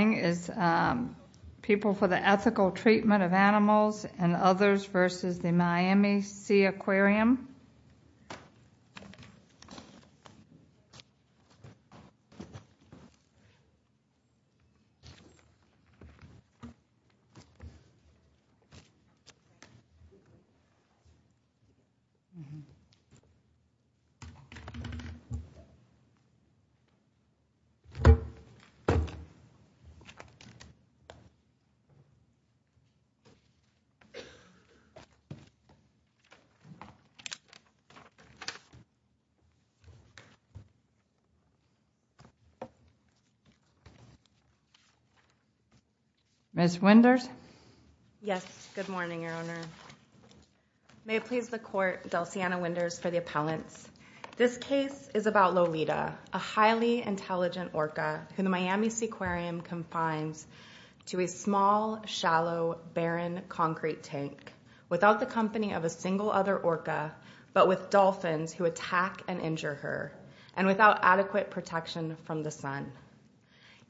People for the Ethical Treatment of Animals and Others v. Miami Sea Aquarium Ms. Winders? Yes, good morning, Your Honor. May it please the Court, Delciana Winders for the appellants. This case is about Lolita, a highly intelligent orca who the Miami Seaquarium confines to a small, shallow, barren concrete tank, without the company of a single other orca but with dolphins who attack and injure her, and without adequate protection from the sun.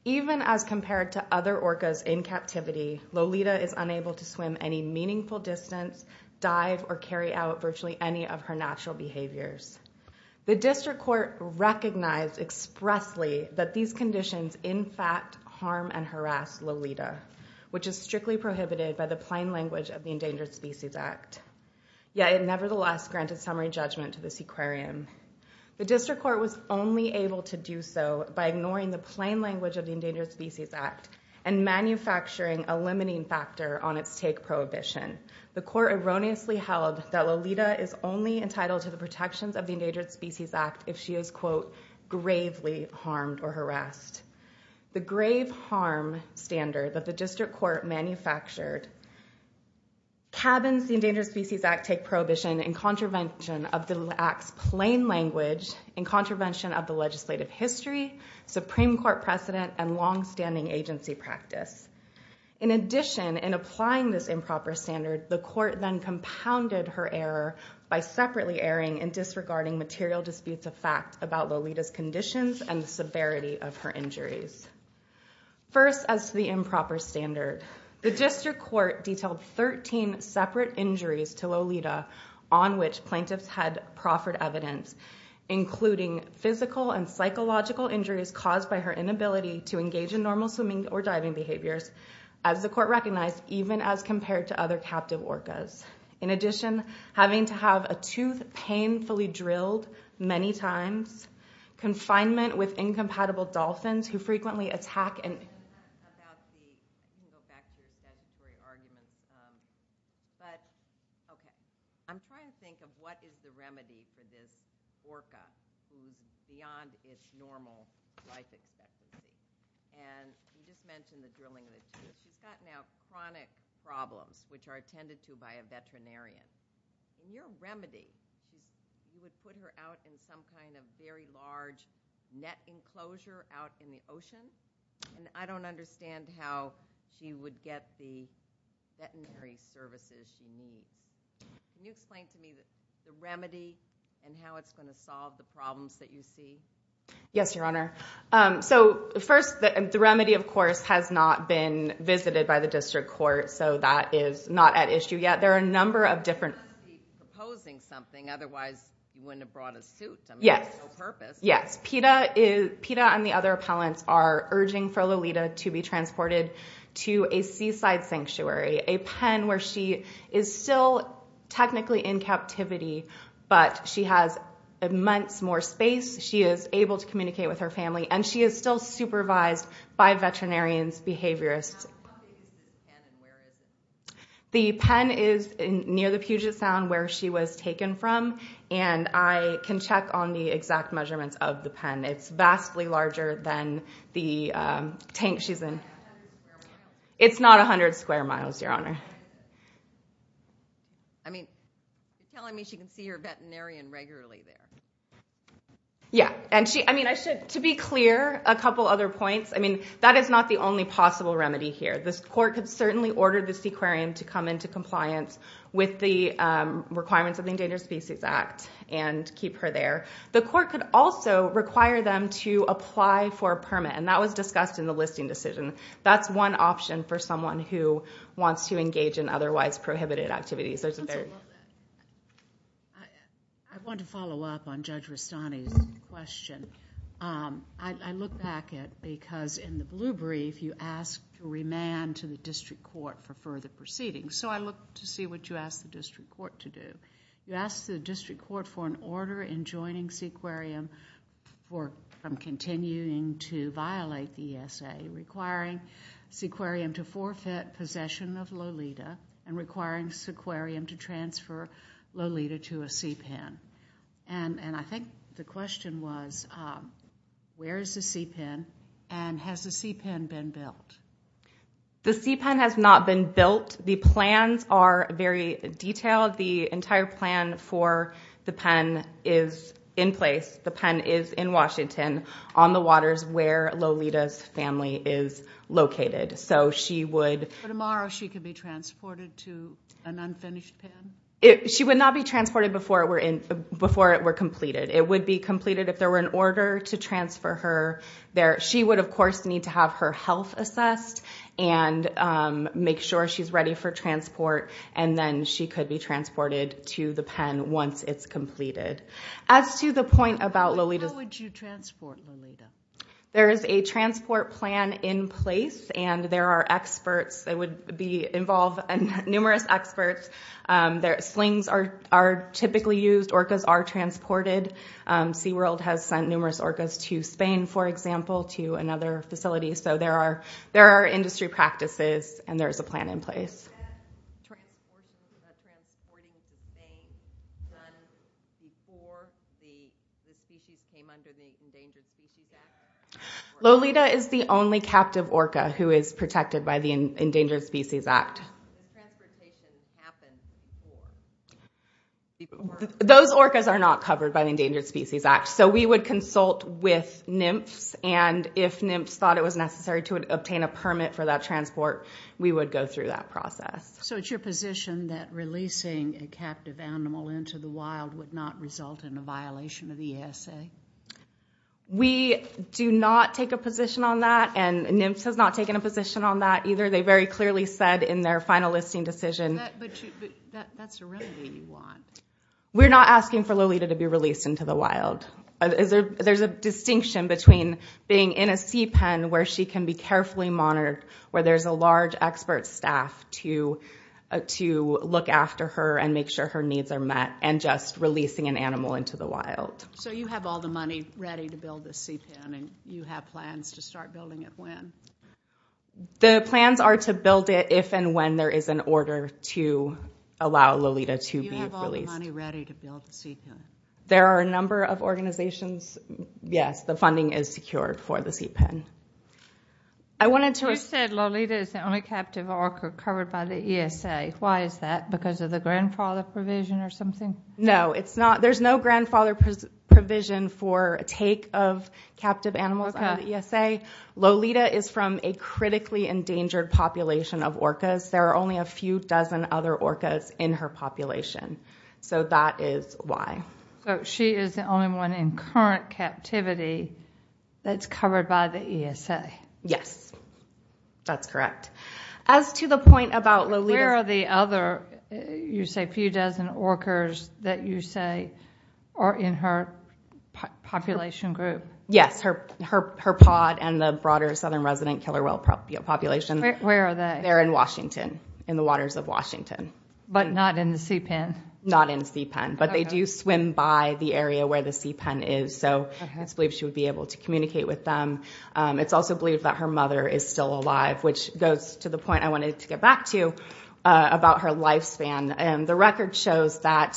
Even as compared to other orcas in captivity, Lolita is unable to swim any meaningful distance, dive, or carry out virtually any of her natural behaviors. The District Court recognized expressly that these conditions in fact harm and harass Lolita, which is strictly prohibited by the plain language of the Endangered Species Act, yet it nevertheless granted summary judgment to the Seaquarium. The District Court was only able to do so by ignoring the plain language of the Endangered Species Act and manufacturing a limiting factor on its take prohibition. The Court erroneously held that Lolita is only entitled to the protections of the Endangered Species Act if she is, quote, gravely harmed or harassed. The grave harm standard that the District Court manufactured cabins the Endangered Species Act take prohibition in contravention of the Act's plain language, in contravention of the legislative history, Supreme Court precedent, and longstanding agency practice. In addition, in applying this improper standard, the Court then compounded her error by separately airing and disregarding material disputes of fact about Lolita's conditions and severity of her injuries. First, as to the improper standard, the District Court detailed 13 separate injuries to Lolita on which plaintiffs had proffered evidence, including physical and psychological injuries caused by her inability to engage in normal swimming or diving behaviors, as the Court recognized even as compared to other captive orcas. In addition, having to have a tooth painfully drilled many times, confinement with incompatible dolphins who frequently attack and... which are attended to by a veterinarian. In your remedy, you would put her out in some kind of very large net enclosure out in the ocean, and I don't understand how she would get the veterinary services she needs. Can you explain to me the remedy and how it's going to solve the problems that you see? Yes, Your Honor. So, first, the remedy, of course, has not been visited by the District Court, so that is not at issue yet. There are a number of different... She must be proposing something, otherwise you wouldn't have brought a suit. I mean, there's no purpose. Yes. PETA and the other appellants are urging for Lolita to be transported to a seaside sanctuary, a pen where she is still technically in captivity, but she has months more space. She is able to communicate with her family, and she is still supervised by veterinarians, behaviorists. How big is the pen, and where is it? The pen is near the Puget Sound, where she was taken from, and I can check on the exact measurements of the pen. It's vastly larger than the tank she's in. It's not 100 square miles? It's not 100 square miles, Your Honor. I mean, you're telling me she can see her veterinarian regularly there. Yeah. To be clear, a couple other points. I mean, that is not the only possible remedy here. The Court could certainly order the Seaquarium to come into compliance with the requirements of the Endangered Species Act and keep her there. The Court could also require them to apply for a permit, and that was discussed in the listing decision. That's one option for someone who wants to engage in otherwise prohibited activities. I want to follow up on Judge Rastani's question. I look back at it, because in the blue brief, you ask to remand to the District Court for further proceedings, so I look to see what you ask the District Court to do. And I think the question was, where is the sea pen, and has the sea pen been built? The sea pen has not been built. The plans are very detailed. The entire plan for the pen is in place. The pen is in Washington, on the waters where Lolita's family is located. Tomorrow, she could be transported to an unfinished pen? She would not be transported before it were completed. It would be completed if there were an order to transfer her there. She would, of course, need to have her health assessed and make sure she's ready for transport, and then she could be transported to the pen once it's completed. How would you transport Lolita? There is a transport plan in place, and there are numerous experts. Slings are typically used. Orcas are transported. SeaWorld has sent numerous orcas to Spain, for example, to another facility. So there are industry practices, and there is a plan in place. Is transporting to Spain done before the species came under the Endangered Species Act? Lolita is the only captive orca who is protected by the Endangered Species Act. And transportation happens before? Those orcas are not covered by the Endangered Species Act. So we would consult with NMFS, and if NMFS thought it was necessary to obtain a permit for that transport, we would go through that process. So it's your position that releasing a captive animal into the wild would not result in a violation of the ESA? We do not take a position on that, and NMFS has not taken a position on that either. They very clearly said in their final listing decision— But that's a remedy you want. We're not asking for Lolita to be released into the wild. There's a distinction between being in a CPEN where she can be carefully monitored, where there's a large expert staff to look after her and make sure her needs are met, and just releasing an animal into the wild. So you have all the money ready to build the CPEN, and you have plans to start building it when? The plans are to build it if and when there is an order to allow Lolita to be released. You have all the money ready to build the CPEN? There are a number of organizations. Yes, the funding is secured for the CPEN. You said Lolita is the only captive orca covered by the ESA. Why is that? Because of the grandfather provision or something? No, there's no grandfather provision for take of captive animals out of the ESA. Lolita is from a critically endangered population of orcas. There are only a few dozen other orcas in her population. So that is why. So she is the only one in current captivity that's covered by the ESA? Yes, that's correct. As to the point about Lolita— Where are the other, you say, few dozen orcas that you say are in her population group? Yes, her pod and the broader southern resident killer whale population. Where are they? They're in Washington, in the waters of Washington. But not in the CPEN? Not in the CPEN, but they do swim by the area where the CPEN is, so it's believed she would be able to communicate with them. It's also believed that her mother is still alive, which goes to the point I wanted to get back to about her lifespan. The record shows that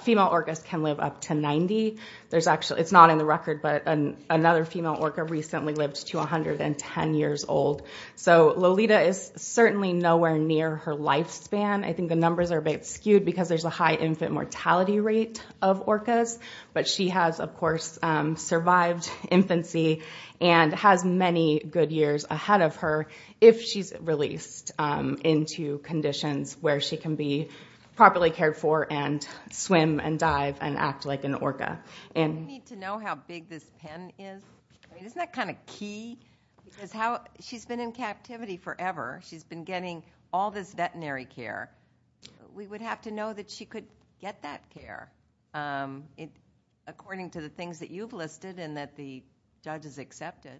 female orcas can live up to 90. It's not in the record, but another female orca recently lived to 110 years old. So Lolita is certainly nowhere near her lifespan. I think the numbers are a bit skewed because there's a high infant mortality rate of orcas. But she has, of course, survived infancy and has many good years ahead of her if she's released into conditions where she can be properly cared for and swim and dive and act like an orca. We need to know how big this pen is. Isn't that kind of key? She's been in captivity forever. She's been getting all this veterinary care. We would have to know that she could get that care, according to the things that you've listed and that the judge has accepted.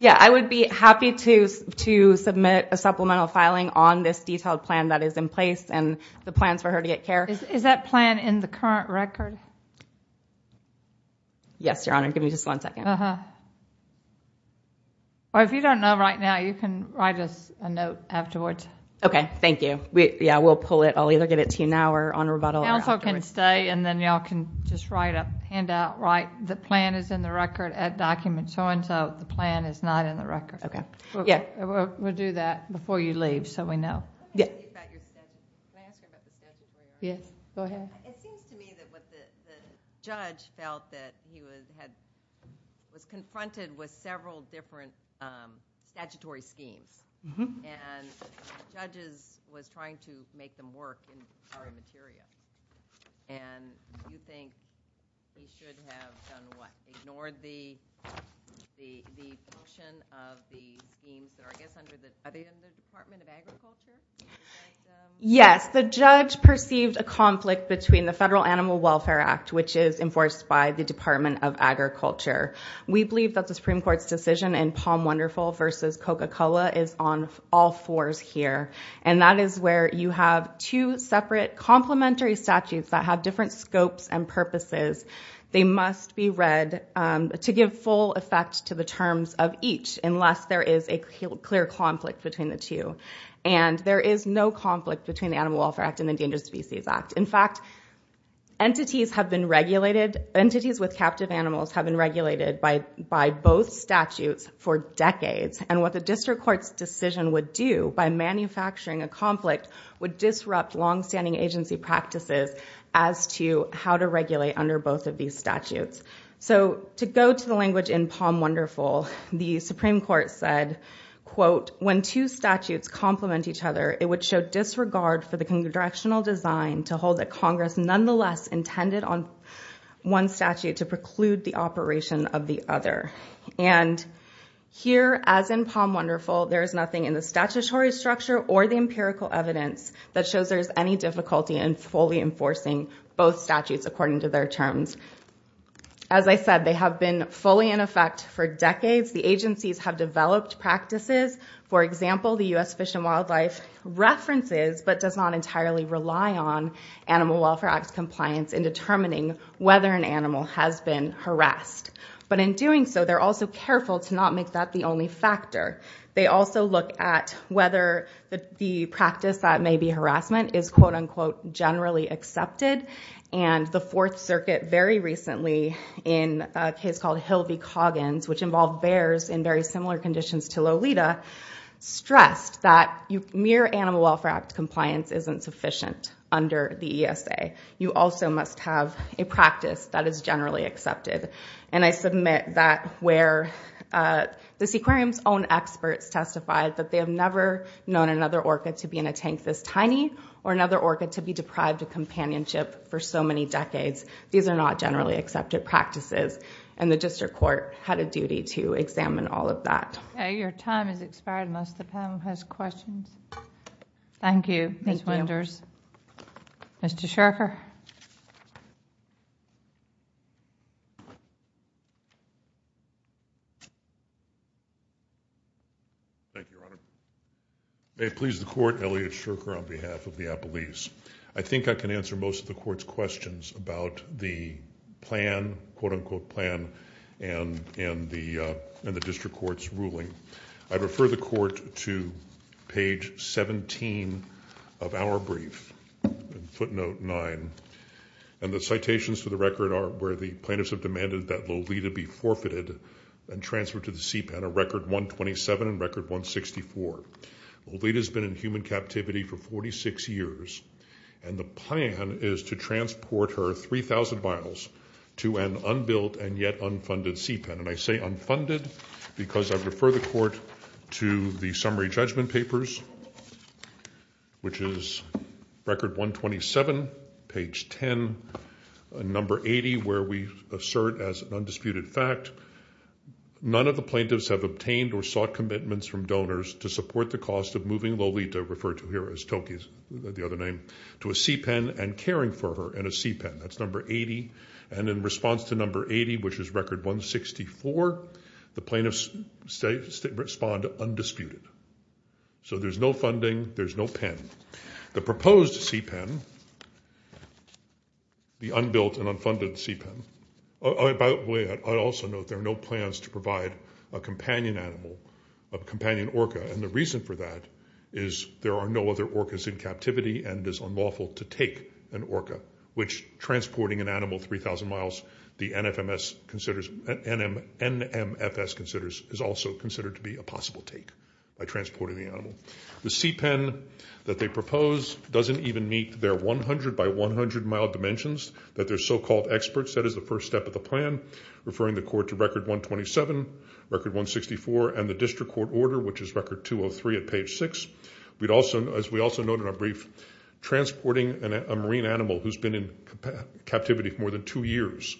Yeah, I would be happy to submit a supplemental filing on this detailed plan that is in place and the plans for her to get care. Is that plan in the current record? Yes, Your Honor. Give me just one second. If you don't know right now, you can write us a note afterwards. Okay, thank you. Yeah, we'll pull it. I'll either get it to you now or on rebuttal. Counsel can stay and then you all can just write a handout, write the plan is in the record, add document, so-and-so. The plan is not in the record. Okay. We'll do that before you leave so we know. Can I ask you about the statutory? Yes, go ahead. It seems to me that the judge felt that he was confronted with several different statutory schemes, and the judge was trying to make them work in the current material. And you think he should have done what, the function of the schemes that are, I guess, under the Department of Agriculture? Yes, the judge perceived a conflict between the Federal Animal Welfare Act, which is enforced by the Department of Agriculture. We believe that the Supreme Court's decision in Palm Wonderful versus Coca-Cola is on all fours here, and that is where you have two separate complementary statutes that have different scopes and purposes. They must be read to give full effect to the terms of each, unless there is a clear conflict between the two. And there is no conflict between the Animal Welfare Act and the Endangered Species Act. In fact, entities have been regulated, entities with captive animals have been regulated by both statutes for decades, and what the district court's decision would do by manufacturing a conflict would disrupt long-standing agency practices as to how to regulate under both of these statutes. So to go to the language in Palm Wonderful, the Supreme Court said, quote, when two statutes complement each other, it would show disregard for the congressional design to hold that Congress nonetheless intended on one statute to preclude the operation of the other. And here, as in Palm Wonderful, there is nothing in the statutory structure or the empirical evidence that shows there is any difficulty in fully enforcing both statutes according to their terms. As I said, they have been fully in effect for decades. The agencies have developed practices. For example, the U.S. Fish and Wildlife references, but does not entirely rely on Animal Welfare Act compliance in determining whether an animal has been harassed. But in doing so, they're also careful to not make that the only factor. They also look at whether the practice that may be harassment is, quote, unquote, generally accepted. And the Fourth Circuit very recently, in a case called Hill v. Coggins, which involved bears in very similar conditions to Lolita, stressed that mere Animal Welfare Act compliance isn't sufficient under the ESA. You also must have a practice that is generally accepted. And I submit that where the Seaquarium's own experts testified that they have never known another orca to be in a tank this tiny or another orca to be deprived of companionship for so many decades. These are not generally accepted practices. And the district court had a duty to examine all of that. Okay, your time has expired unless the panel has questions. Thank you, Ms. Winders. Mr. Shurker. Thank you, Your Honor. May it please the court, Elliot Shurker on behalf of the Appalese. I think I can answer most of the court's questions about the plan, quote, unquote, plan, and the district court's ruling. I refer the court to page 17 of our brief, footnote 9, and the citations to the record are where the plaintiffs have demanded that Lolita be forfeited and transferred to the Sea Pen, a record 127 and record 164. Lolita's been in human captivity for 46 years, and the plan is to transport her 3,000 miles to an unbuilt and yet unfunded Sea Pen. And I say unfunded because I refer the court to the summary judgment papers, which is record 127, page 10, number 80, where we assert as an undisputed fact none of the plaintiffs have obtained or sought commitments from donors to support the cost of moving Lolita, referred to here as Toki, the other name, to a Sea Pen and caring for her in a Sea Pen. That's number 80. And in response to number 80, which is record 164, the plaintiffs respond undisputed. So there's no funding. There's no pen. The proposed Sea Pen, the unbuilt and unfunded Sea Pen, by the way, I also note there are no plans to provide a companion animal, a companion orca, and the reason for that is there are no other orcas in captivity, and it is unlawful to take an orca, which transporting an animal 3,000 miles, the NFMS considers, NMFS considers, is also considered to be a possible take by transporting the animal. The Sea Pen that they propose doesn't even meet their 100-by-100-mile dimensions that their so-called experts set as the first step of the plan, referring the court to record 127, record 164, and the district court order, which is record 203 at page 6. As we also note in our brief, transporting a marine animal who's been in captivity for more than two years,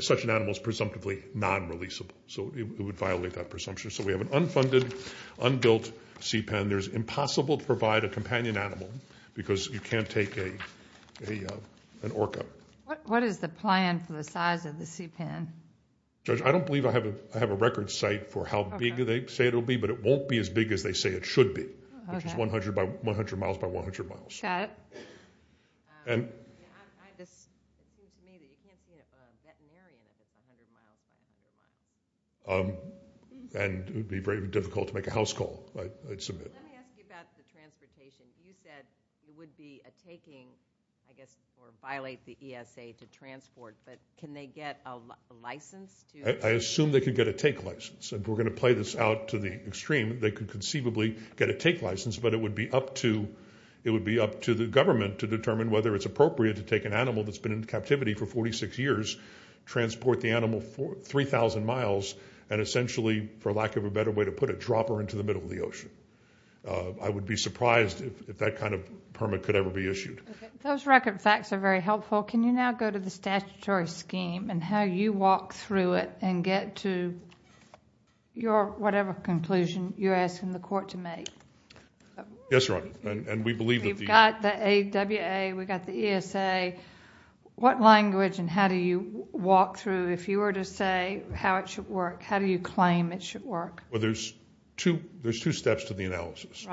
such an animal is presumptively non-releasable, so it would violate that presumption. So we have an unfunded, unbuilt Sea Pen. It's impossible to provide a companion animal because you can't take an orca. What is the plan for the size of the Sea Pen? Judge, I don't believe I have a record site for how big they say it will be, but it won't be as big as they say it should be, which is 100-by-100-miles. Shut up. And it would be very difficult to make a house call. Let me ask you about the transportation. You said it would be a taking, I guess, or violate the ESA to transport, but can they get a license? I assume they can get a take license. If we're going to play this out to the extreme, they could conceivably get a take license, but it would be up to the government to determine whether it's appropriate to take an animal that's been in captivity for 46 years, transport the animal 3,000 miles, and essentially, for lack of a better way to put it, drop her into the middle of the ocean. I would be surprised if that kind of permit could ever be issued. Those record facts are very helpful. Well, can you now go to the statutory scheme and how you walk through it and get to your whatever conclusion you're asking the court to make? Yes, Your Honor, and we believe that the... You've got the AWA, we've got the ESA. What language and how do you walk through? If you were to say how it should work, how do you claim it should work? Well, there's two steps to the analysis.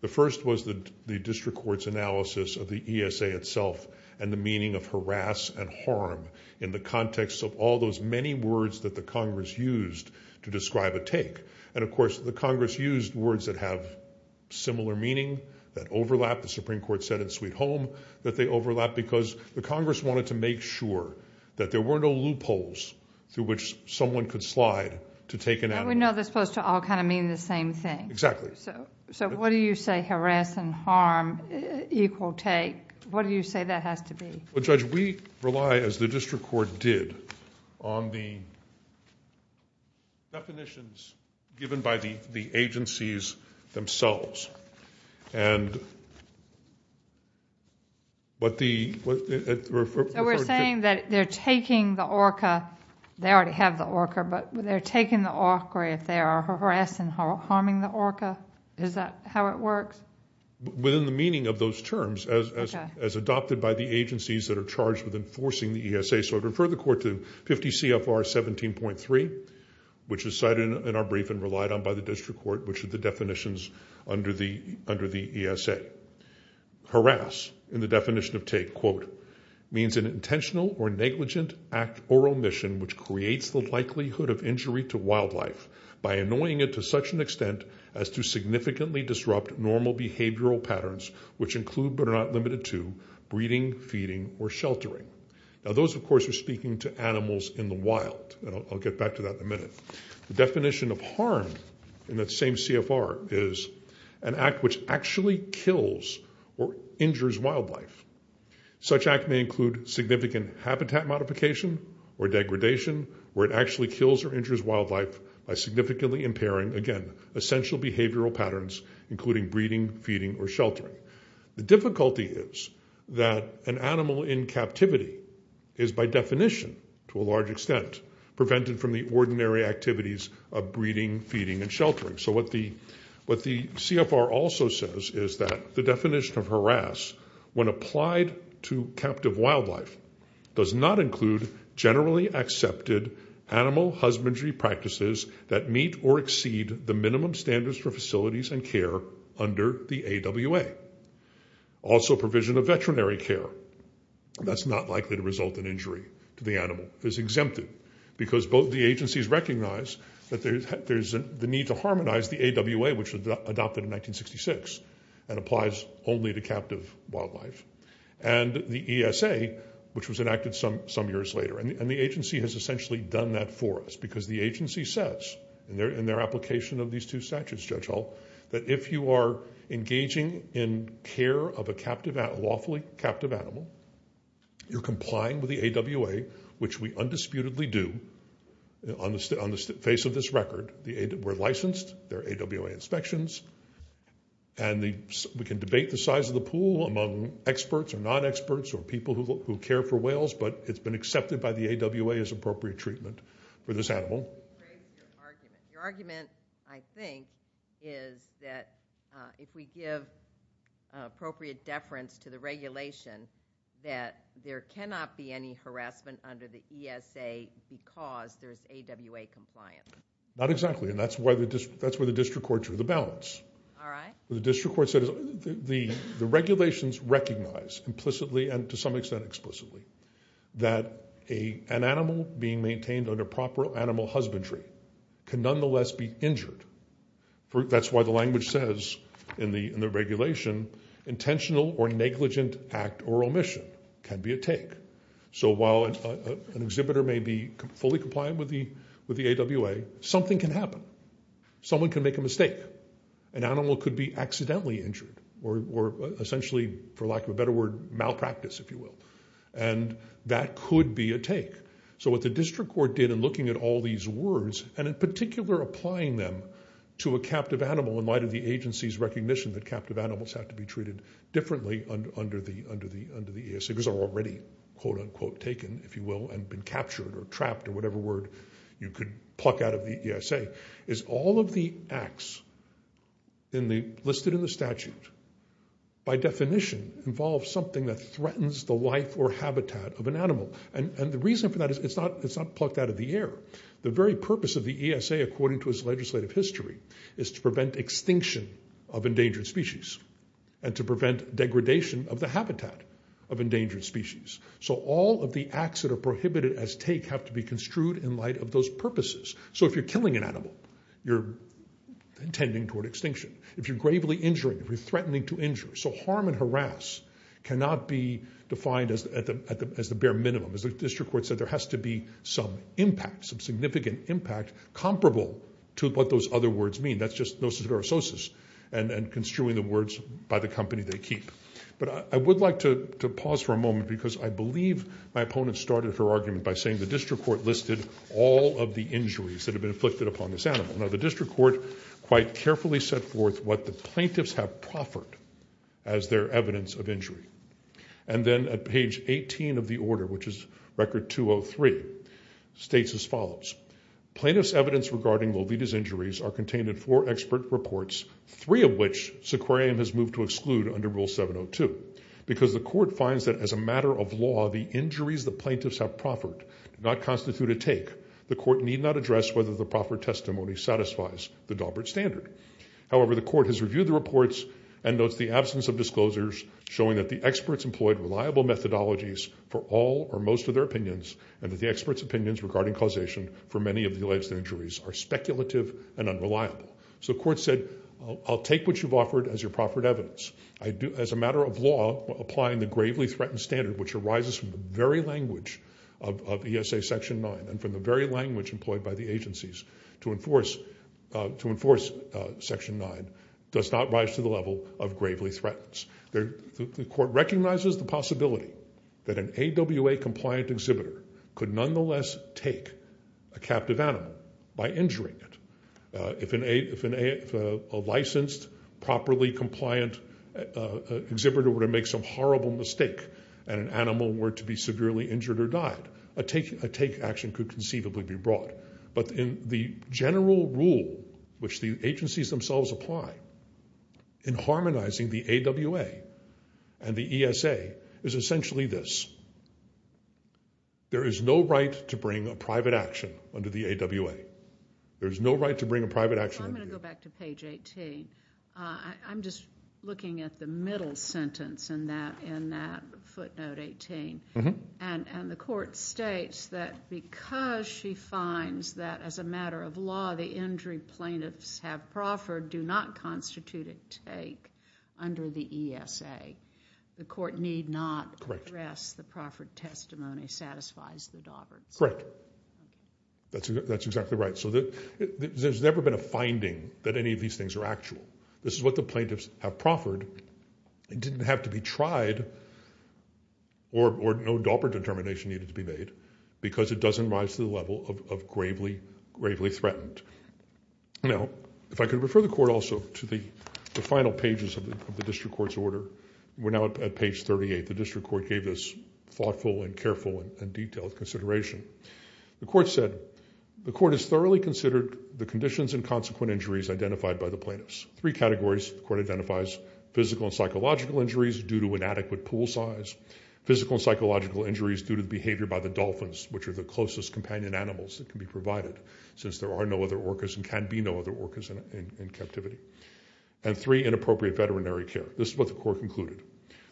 The first was the district court's analysis of the ESA itself and the meaning of harass and harm in the context of all those many words that the Congress used to describe a take. And, of course, the Congress used words that have similar meaning, that overlap. The Supreme Court said in Sweet Home that they overlap because the Congress wanted to make sure that there were no loopholes through which someone could slide to take an animal. And we know they're supposed to all kind of mean the same thing. Exactly. So what do you say harass and harm equal take? What do you say that has to be? Well, Judge, we rely, as the district court did, on the definitions given by the agencies themselves. And what the... So we're saying that they're taking the orca... They already have the orca, but they're taking the orca if they are harassed and harming the orca? Is that how it works? Within the meaning of those terms, as adopted by the agencies that are charged with enforcing the ESA. So I'd refer the court to 50 CFR 17.3, which is cited in our brief and relied on by the district court, which are the definitions under the ESA. Harass in the definition of take, quote, means an intentional or negligent act or omission which creates the likelihood of injury to wildlife by annoying it to such an extent as to significantly disrupt normal behavioral patterns, which include but are not limited to breeding, feeding, or sheltering. Now those, of course, are speaking to animals in the wild, and I'll get back to that in a minute. The definition of harm in that same CFR is an act which actually kills or injures wildlife. Such act may include significant habitat modification or degradation where it actually kills or injures wildlife by significantly impairing, again, essential behavioral patterns, including breeding, feeding, or sheltering. The difficulty is that an animal in captivity is by definition, to a large extent, prevented from the ordinary activities of breeding, feeding, and sheltering. So what the CFR also says is that the definition of harass when applied to captive wildlife does not include generally accepted animal husbandry practices that meet or exceed the minimum standards for facilities and care under the AWA. Also provision of veterinary care that's not likely to result in injury to the animal is exempted because both the agencies recognize that there's the need to harmonize the AWA, which was adopted in 1966 and applies only to captive wildlife, and the ESA, which was enacted some years later. And the agency has essentially done that for us because the agency says in their application of these two statutes, Judge Hall, that if you are engaging in care of a lawfully captive animal, you're complying with the AWA, which we undisputedly do on the face of this record. We're licensed. There are AWA inspections. And we can debate the size of the pool among experts or non-experts or people who care for whales, but it's been accepted by the AWA as appropriate treatment for this animal. Your argument, I think, is that if we give appropriate deference to the regulation, that there cannot be any harassment under the ESA because there's AWA compliance. Not exactly, and that's where the district court drew the balance. All right. The district court said the regulations recognize implicitly and to some extent explicitly that an animal being maintained under proper animal husbandry can nonetheless be injured. That's why the language says in the regulation intentional or negligent act or omission can be a take. So while an exhibitor may be fully compliant with the AWA, something can happen. Someone can make a mistake. An animal could be accidentally injured or essentially, for lack of a better word, malpractice, if you will, and that could be a take. So what the district court did in looking at all these words and in particular applying them to a captive animal in light of the agency's recognition that captive animals have to be treated differently under the ESA because they're already, quote-unquote, taken, if you will, and been captured or trapped or whatever word you could pluck out of the ESA, is all of the acts listed in the statute, by definition, involve something that threatens the life or habitat of an animal. And the reason for that is it's not plucked out of the air. The very purpose of the ESA, according to its legislative history, is to prevent extinction of endangered species and to prevent degradation of the habitat of endangered species. So all of the acts that are prohibited as take have to be construed in light of those purposes. So if you're killing an animal, you're intending toward extinction. If you're gravely injuring, if you're threatening to injure. So harm and harass cannot be defined as the bare minimum. As the district court said, there has to be some impact, some significant impact comparable to what those other words mean. That's just nociterososis and construing the words by the company they keep. But I would like to pause for a moment because I believe my opponent started her argument by saying the district court listed all of the injuries that have been inflicted upon this animal. Now the district court quite carefully set forth what the plaintiffs have proffered as their evidence of injury. And then at page 18 of the order, which is record 203, states as follows. Plaintiffs' evidence regarding Lolita's injuries are contained in four expert reports, three of which Sequoiam has moved to exclude under Rule 702. Because the court finds that as a matter of law, the injuries the plaintiffs have proffered do not constitute a take, the court need not address whether the proffered testimony satisfies the Daubert standard. However, the court has reviewed the reports and notes the absence of disclosures showing that the experts employed reliable methodologies for all or most of their opinions and that the experts' opinions regarding causation for many of the alleged injuries are speculative and unreliable. So the court said, I'll take what you've offered as your proffered evidence. As a matter of law, applying the gravely threatened standard, which arises from the very language of ESA Section 9 and from the very language employed by the agencies to enforce Section 9, does not rise to the level of gravely threatens. The court recognizes the possibility that an AWA-compliant exhibitor could nonetheless take a captive animal by injuring it. If a licensed, properly compliant exhibitor were to make some horrible mistake and an animal were to be severely injured or died, a take action could conceivably be brought. But in the general rule which the agencies themselves apply in harmonizing the AWA and the ESA is essentially this. There is no right to bring a private action under the AWA. There is no right to bring a private action under the AWA. I'm going to go back to page 18. I'm just looking at the middle sentence in that footnote 18. And the court states that because she finds that as a matter of law the injury plaintiffs have proffered do not constitute a take under the ESA. The court need not address the proffered testimony satisfies the Dauberts. Correct. That's exactly right. So there's never been a finding that any of these things are actual. This is what the plaintiffs have proffered. It didn't have to be tried or no Daubert determination needed to be made because it doesn't rise to the level of gravely threatened. Now, if I could refer the court also to the final pages of the district court's order. We're now at page 38. The district court gave this thoughtful and careful and detailed consideration. The court said the court has thoroughly considered the conditions and consequent injuries identified by the plaintiffs. Three categories the court identifies, physical and psychological injuries due to inadequate pool size, physical and psychological injuries due to the behavior by the dolphins, which are the closest companion animals that can be provided since there are no other orcas and can be no other orcas in captivity. And three, inappropriate veterinary care. This is what the court concluded.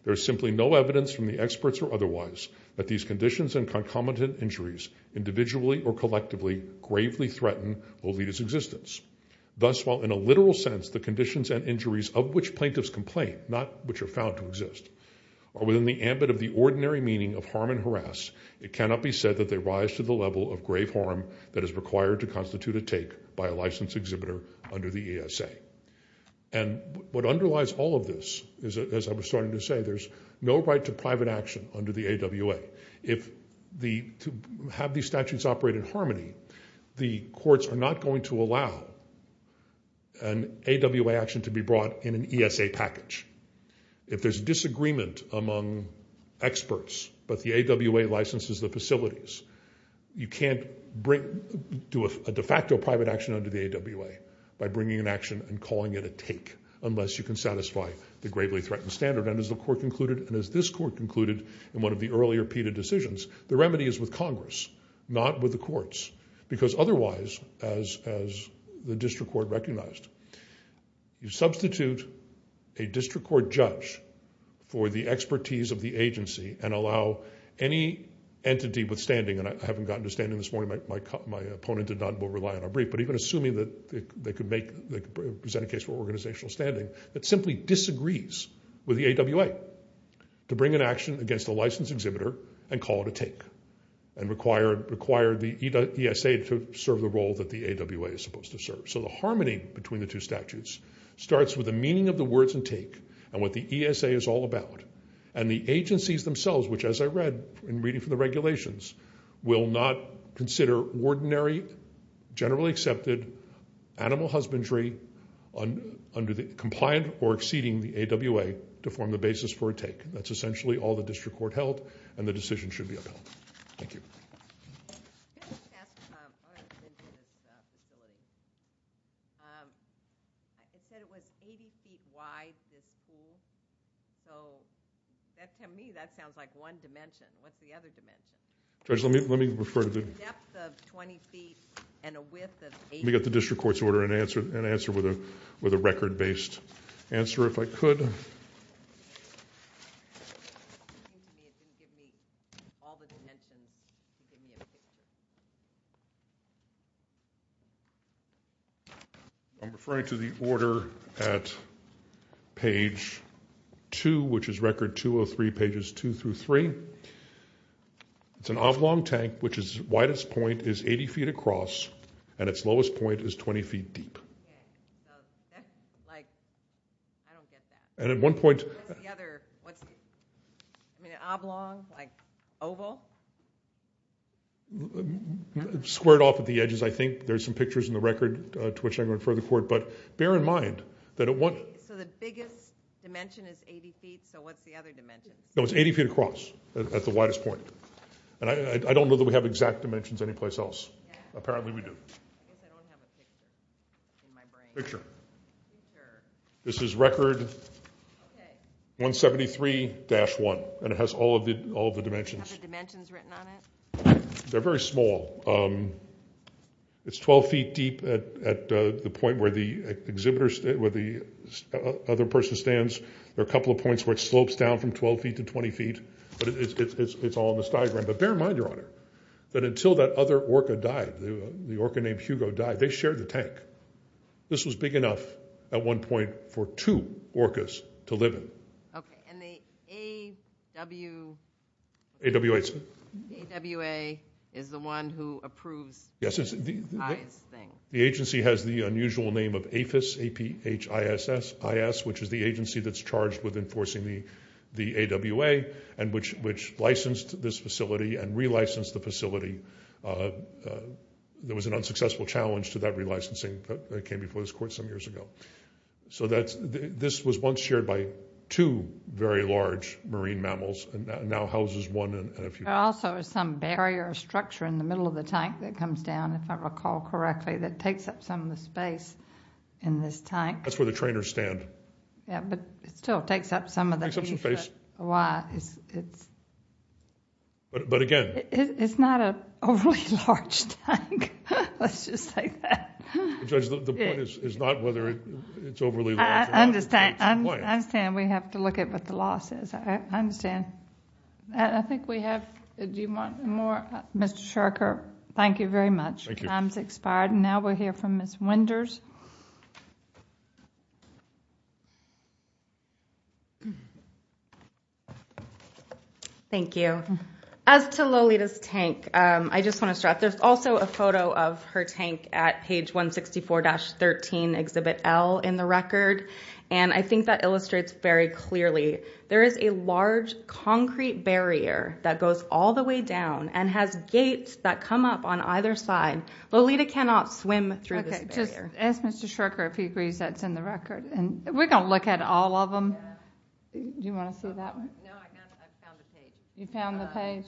There is simply no evidence from the experts or otherwise that these conditions and concomitant injuries individually or collectively gravely threaten Olita's existence. Thus, while in a literal sense the conditions and injuries of which plaintiffs complain, not which are found to exist, are within the ambit of the ordinary meaning of harm and harass, it cannot be said that they rise to the level of grave harm that is required to constitute a take by a licensed exhibitor under the ESA. And what underlies all of this is, as I was starting to say, there's no right to private action under the AWA. To have these statutes operate in harmony, the courts are not going to allow an AWA action to be brought in an ESA package. If there's disagreement among experts but the AWA licenses the facilities, you can't do a de facto private action under the AWA by bringing an action and calling it a take unless you can satisfy the gravely threatened standard. And as the court concluded and as this court concluded in one of the earlier PETA decisions, the remedy is with Congress, not with the courts. Because otherwise, as the district court recognized, you substitute a district court judge for the expertise of the agency and allow any entity withstanding, and I haven't gotten to standing this morning, my opponent did not rely on our brief, but even assuming that they could present a case for organizational standing that simply disagrees with the AWA to bring an action against the licensed exhibitor and call it a take and require the ESA to serve the role that the AWA is supposed to serve. So the harmony between the two statutes starts with the meaning of the words and take and what the ESA is all about. And the agencies themselves, which as I read in reading from the regulations, will not consider ordinary, generally accepted animal husbandry under the compliant or exceeding the AWA to form the basis for a take. That's essentially all the district court held, and the decision should be upheld. Thank you. Judge, let me refer to the... Let me get the district court's order and answer with a record-based answer if I could. Thank you. I'm referring to the order at page 2, which is Record 203, pages 2 through 3. It's an oblong tank, which its widest point is 80 feet across and its lowest point is 20 feet deep. And at one point... Squared off at the edges, I think. There's some pictures in the record to which I can refer to the court, but bear in mind that at one... So the biggest dimension is 80 feet, so what's the other dimension? No, it's 80 feet across at the widest point. And I don't know that we have exact dimensions anyplace else. Apparently we do. Picture. This is Record 173-1, and it has all of the dimensions. Do you have the dimensions written on it? They're very small. It's 12 feet deep at the point where the other person stands. There are a couple of points where it slopes down from 12 feet to 20 feet, but it's all in this diagram. But bear in mind, Your Honor, that until that other orca died, the orca named Hugo died, they shared the tank. This was big enough at one point for two orcas to live in. Okay, and the AWA is the one who approves the IS thing? The agency has the unusual name of APHIS, A-P-H-I-S-S, which is the agency that's charged with enforcing the AWA and which licensed this facility and relicensed the facility. There was an unsuccessful challenge to that relicensing, but it came before this Court some years ago. So this was once shared by two very large marine mammals and now houses one and a few. There also is some barrier structure in the middle of the tank that comes down, if I recall correctly, that takes up some of the space in this tank. That's where the trainers stand. Yeah, but it still takes up some of the space. Takes up some space. But again... It's not an overly large tank. Let's just say that. Judge, the point is not whether it's overly large or not. I understand. I understand we have to look at what the law says. I understand. I think we have... do you want more? Mr. Shurker, thank you very much. Thank you. Time has expired. Now we'll hear from Ms. Winders. Thank you. As to Lolita's tank, I just want to stress, there's also a photo of her tank at page 164-13, Exhibit L in the record, and I think that illustrates very clearly. There is a large concrete barrier that goes all the way down and has gates that come up on either side. Lolita cannot swim through this barrier. Okay, just ask Mr. Shurker if he agrees that's in the record. We're going to look at all of them. Do you want to see that one? No, I found the page. You found the page?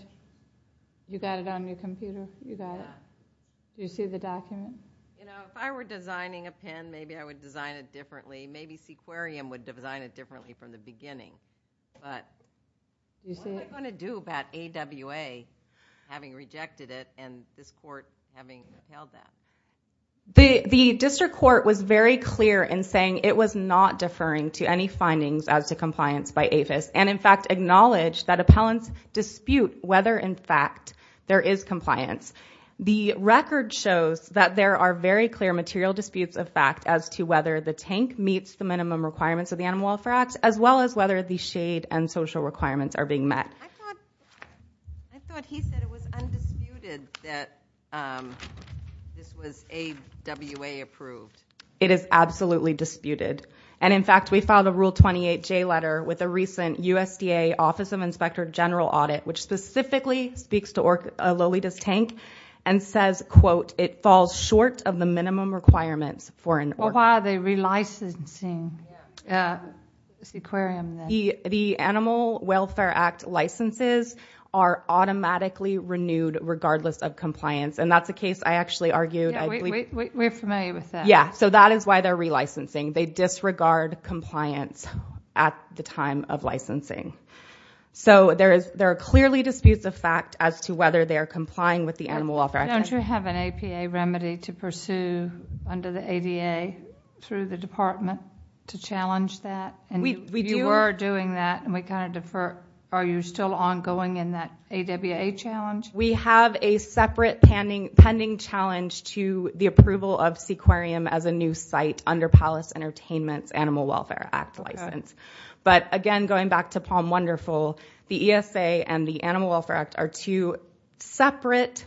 You got it on your computer? You got it? Yeah. Do you see the document? You know, if I were designing a pen, maybe I would design it differently. Maybe Sequarium would design it differently from the beginning. What am I going to do about AWA having rejected it and this court having upheld that? The district court was very clear in saying it was not deferring to any findings as to compliance by APHIS, and in fact acknowledged that appellants dispute whether in fact there is compliance. The record shows that there are very clear material disputes of fact as to whether the tank meets the minimum requirements of the Animal Welfare Act as well as whether the shade and social requirements are being met. I thought he said it was undisputed that this was AWA approved. It is absolutely disputed. And, in fact, we filed a Rule 28J letter with a recent USDA Office of Inspector General audit, which specifically speaks to Lolita's tank and says, quote, Well, why are they relicensing Sequarium then? The Animal Welfare Act licenses are automatically renewed regardless of compliance, and that's a case I actually argued. Yeah, we're familiar with that. Yeah, so that is why they're relicensing. They disregard compliance at the time of licensing. So there are clearly disputes of fact as to whether they are complying with the Animal Welfare Act. Don't you have an APA remedy to pursue under the ADA through the department to challenge that? You were doing that, and we kind of defer. Are you still ongoing in that AWA challenge? We have a separate pending challenge to the approval of Sequarium as a new site under Palace Entertainment's Animal Welfare Act license. But, again, going back to Palm Wonderful, the ESA and the Animal Welfare Act are two separate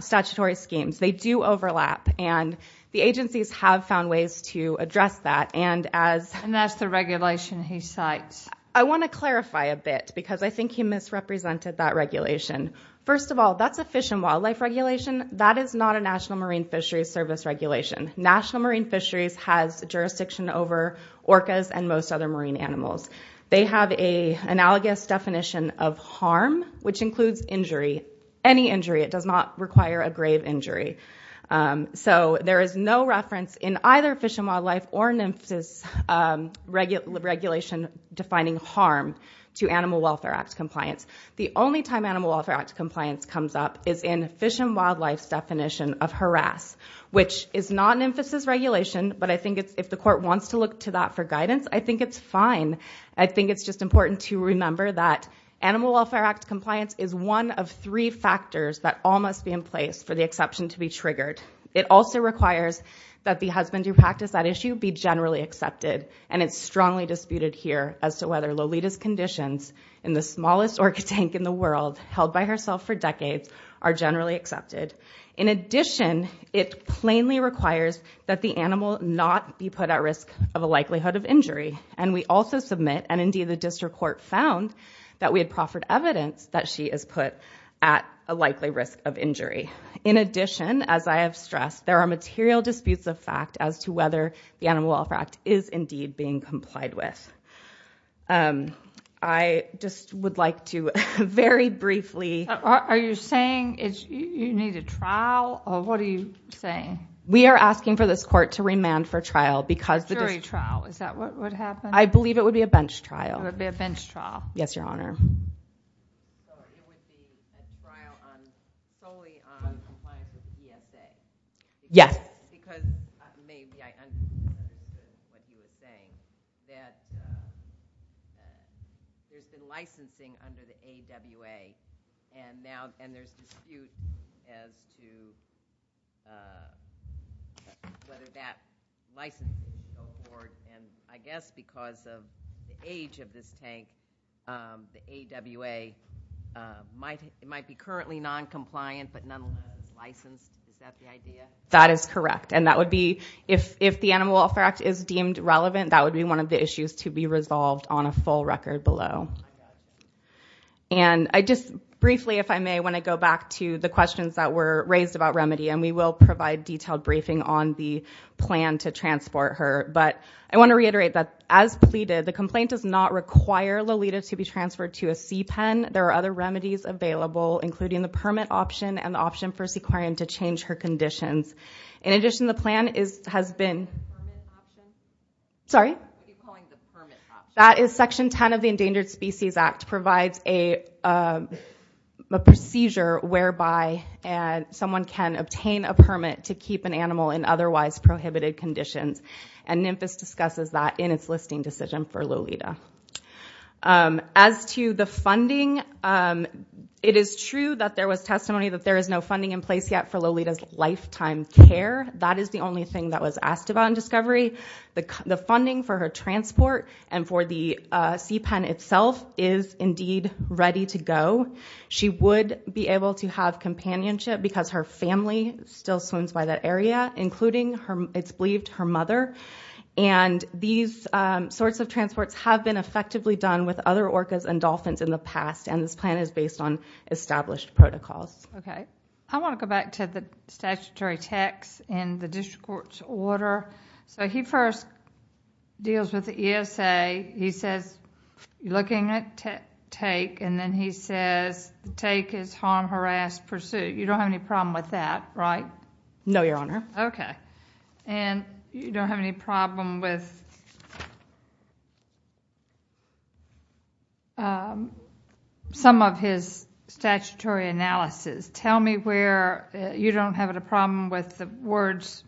statutory schemes. They do overlap, and the agencies have found ways to address that. And that's the regulation he cites. I want to clarify a bit because I think he misrepresented that regulation. First of all, that's a fish and wildlife regulation. That is not a National Marine Fisheries Service regulation. National Marine Fisheries has jurisdiction over orcas and most other marine animals. They have an analogous definition of harm, which includes injury, any injury. It does not require a grave injury. So there is no reference in either fish and wildlife or NMFSA's regulation defining harm to Animal Welfare Act compliance. The only time Animal Welfare Act compliance comes up is in fish and wildlife's definition of harass, which is not NMFSA's regulation, but I think if the court wants to look to that for guidance, I think it's fine. I think it's just important to remember that Animal Welfare Act compliance is one of three factors that all must be in place for the exception to be triggered. It also requires that the husband who practiced that issue be generally accepted, and it's strongly disputed here as to whether Lolita's conditions in the smallest orca tank in the world, held by herself for decades, are generally accepted. In addition, it plainly requires that the animal not be put at risk of a likelihood of injury, and we also submit, and indeed the district court found that we had proffered evidence that she is put at a likely risk of injury. In addition, as I have stressed, there are material disputes of fact as to whether the Animal Welfare Act is indeed being complied with. I just would like to very briefly— Are you saying you need a trial, or what are you saying? We are asking for this court to remand for trial because the district— A jury trial, is that what would happen? I believe it would be a bench trial. It would be a bench trial. Yes, Your Honor. So it would be a trial solely on compliance with the ESA? Yes. Because maybe I understood what you were saying, that there's been licensing under the AWA, and there's disputes as to whether that licensing would go forward, and I guess because of the age of this tank, the AWA might be currently noncompliant, but nonetheless licensed. Is that the idea? That is correct, and that would be— If the Animal Welfare Act is deemed relevant, that would be one of the issues to be resolved on a full record below. And I just briefly, if I may, want to go back to the questions that were raised about remedy, and we will provide detailed briefing on the plan to transport her. But I want to reiterate that, as pleaded, the complaint does not require Lolita to be transferred to a CPEN. There are other remedies available, including the permit option and the option for Sequarian to change her conditions. In addition, the plan has been— Permit option? Sorry? I keep calling it the permit option. That is Section 10 of the Endangered Species Act, provides a procedure whereby someone can obtain a permit to keep an animal in otherwise prohibited conditions, and NMFIS discusses that in its listing decision for Lolita. As to the funding, it is true that there was testimony that there is no funding in place yet for Lolita's lifetime care. That is the only thing that was asked about in discovery. The funding for her transport and for the CPEN itself is indeed ready to go. She would be able to have companionship because her family still swims by that area, including, it's believed, her mother. And these sorts of transports have been effectively done with other orcas and dolphins in the past, and this plan is based on established protocols. Okay. I want to go back to the statutory text in the district court's order. So he first deals with the ESA. He says, looking at take, and then he says, take is harm, harass, pursue. You don't have any problem with that, right? No, Your Honor. Okay. And you don't have any problem with some of his statutory analysis. Tell me where you don't have a problem with the words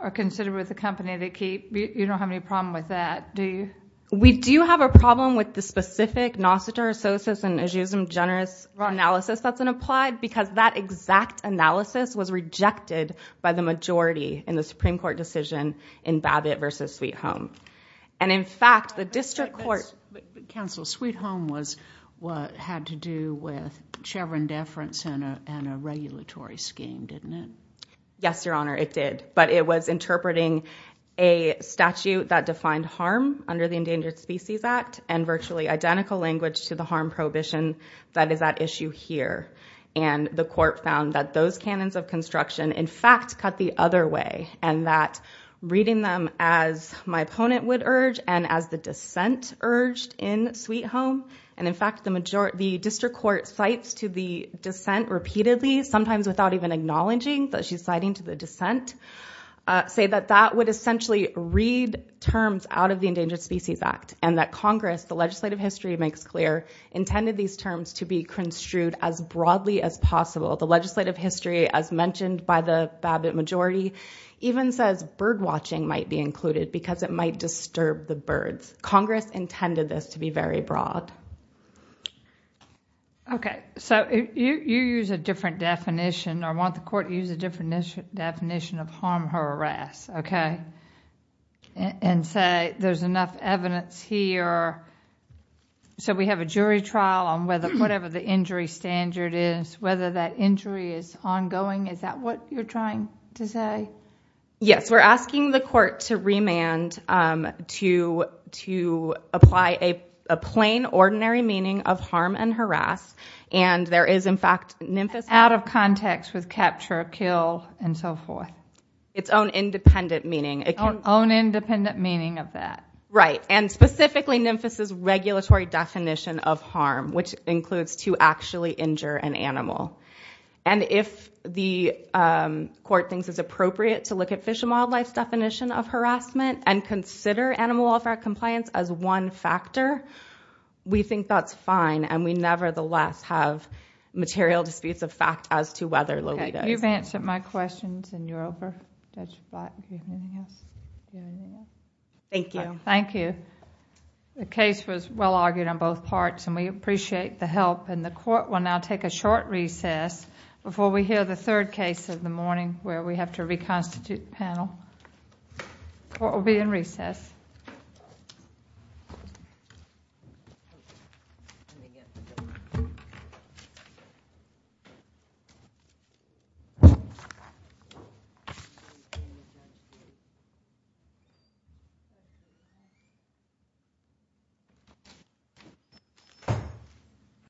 are considered with the company they keep. You don't have any problem with that, do you? We do have a problem with the specific nosoterososis and eschewism generis analysis that's been applied because that exact analysis was rejected by the majority in the Supreme Court decision in Babbitt versus Sweet Home. And, in fact, the district court- Counsel, Sweet Home was what had to do with Chevron deference and a regulatory scheme, didn't it? Yes, Your Honor, it did. But it was interpreting a statute that defined harm under the Endangered Species Act and virtually identical language to the harm prohibition that is at issue here. And the court found that those canons of construction, in fact, cut the other way. And that reading them as my opponent would urge and as the dissent urged in Sweet Home, and, in fact, the district court cites to the dissent repeatedly, sometimes without even acknowledging that she's citing to the dissent, say that that would essentially read terms out of the Endangered Species Act and that Congress, the legislative history makes clear, intended these terms to be construed as broadly as possible. The legislative history, as mentioned by the Babbitt majority, even says birdwatching might be included because it might disturb the birds. Congress intended this to be very broad. Okay. So you use a different definition, or want the court to use a different definition of harm or harass, okay, and say there's enough evidence here. So we have a jury trial on whatever the injury standard is, whether that injury is ongoing. Is that what you're trying to say? Yes. We're asking the court to remand to apply a plain, ordinary meaning of harm and harass. Out of context with capture, kill, and so forth. Its own independent meaning. Its own independent meaning of that. Right. And specifically NIMFAS's regulatory definition of harm, which includes to actually injure an animal. And if the court thinks it's appropriate to look at Fish and Wildlife's definition of harassment and consider animal welfare compliance as one factor, we think that's fine and we nevertheless have material disputes of fact as to whether Lolita is... Okay. You've answered my questions and you're over. Judge Flatt, do you have anything else? Thank you. Thank you. The case was well argued on both parts and we appreciate the help. And the court will now take a short recess before we hear the third case of the morning where we have to reconstitute the panel. Court will be in recess.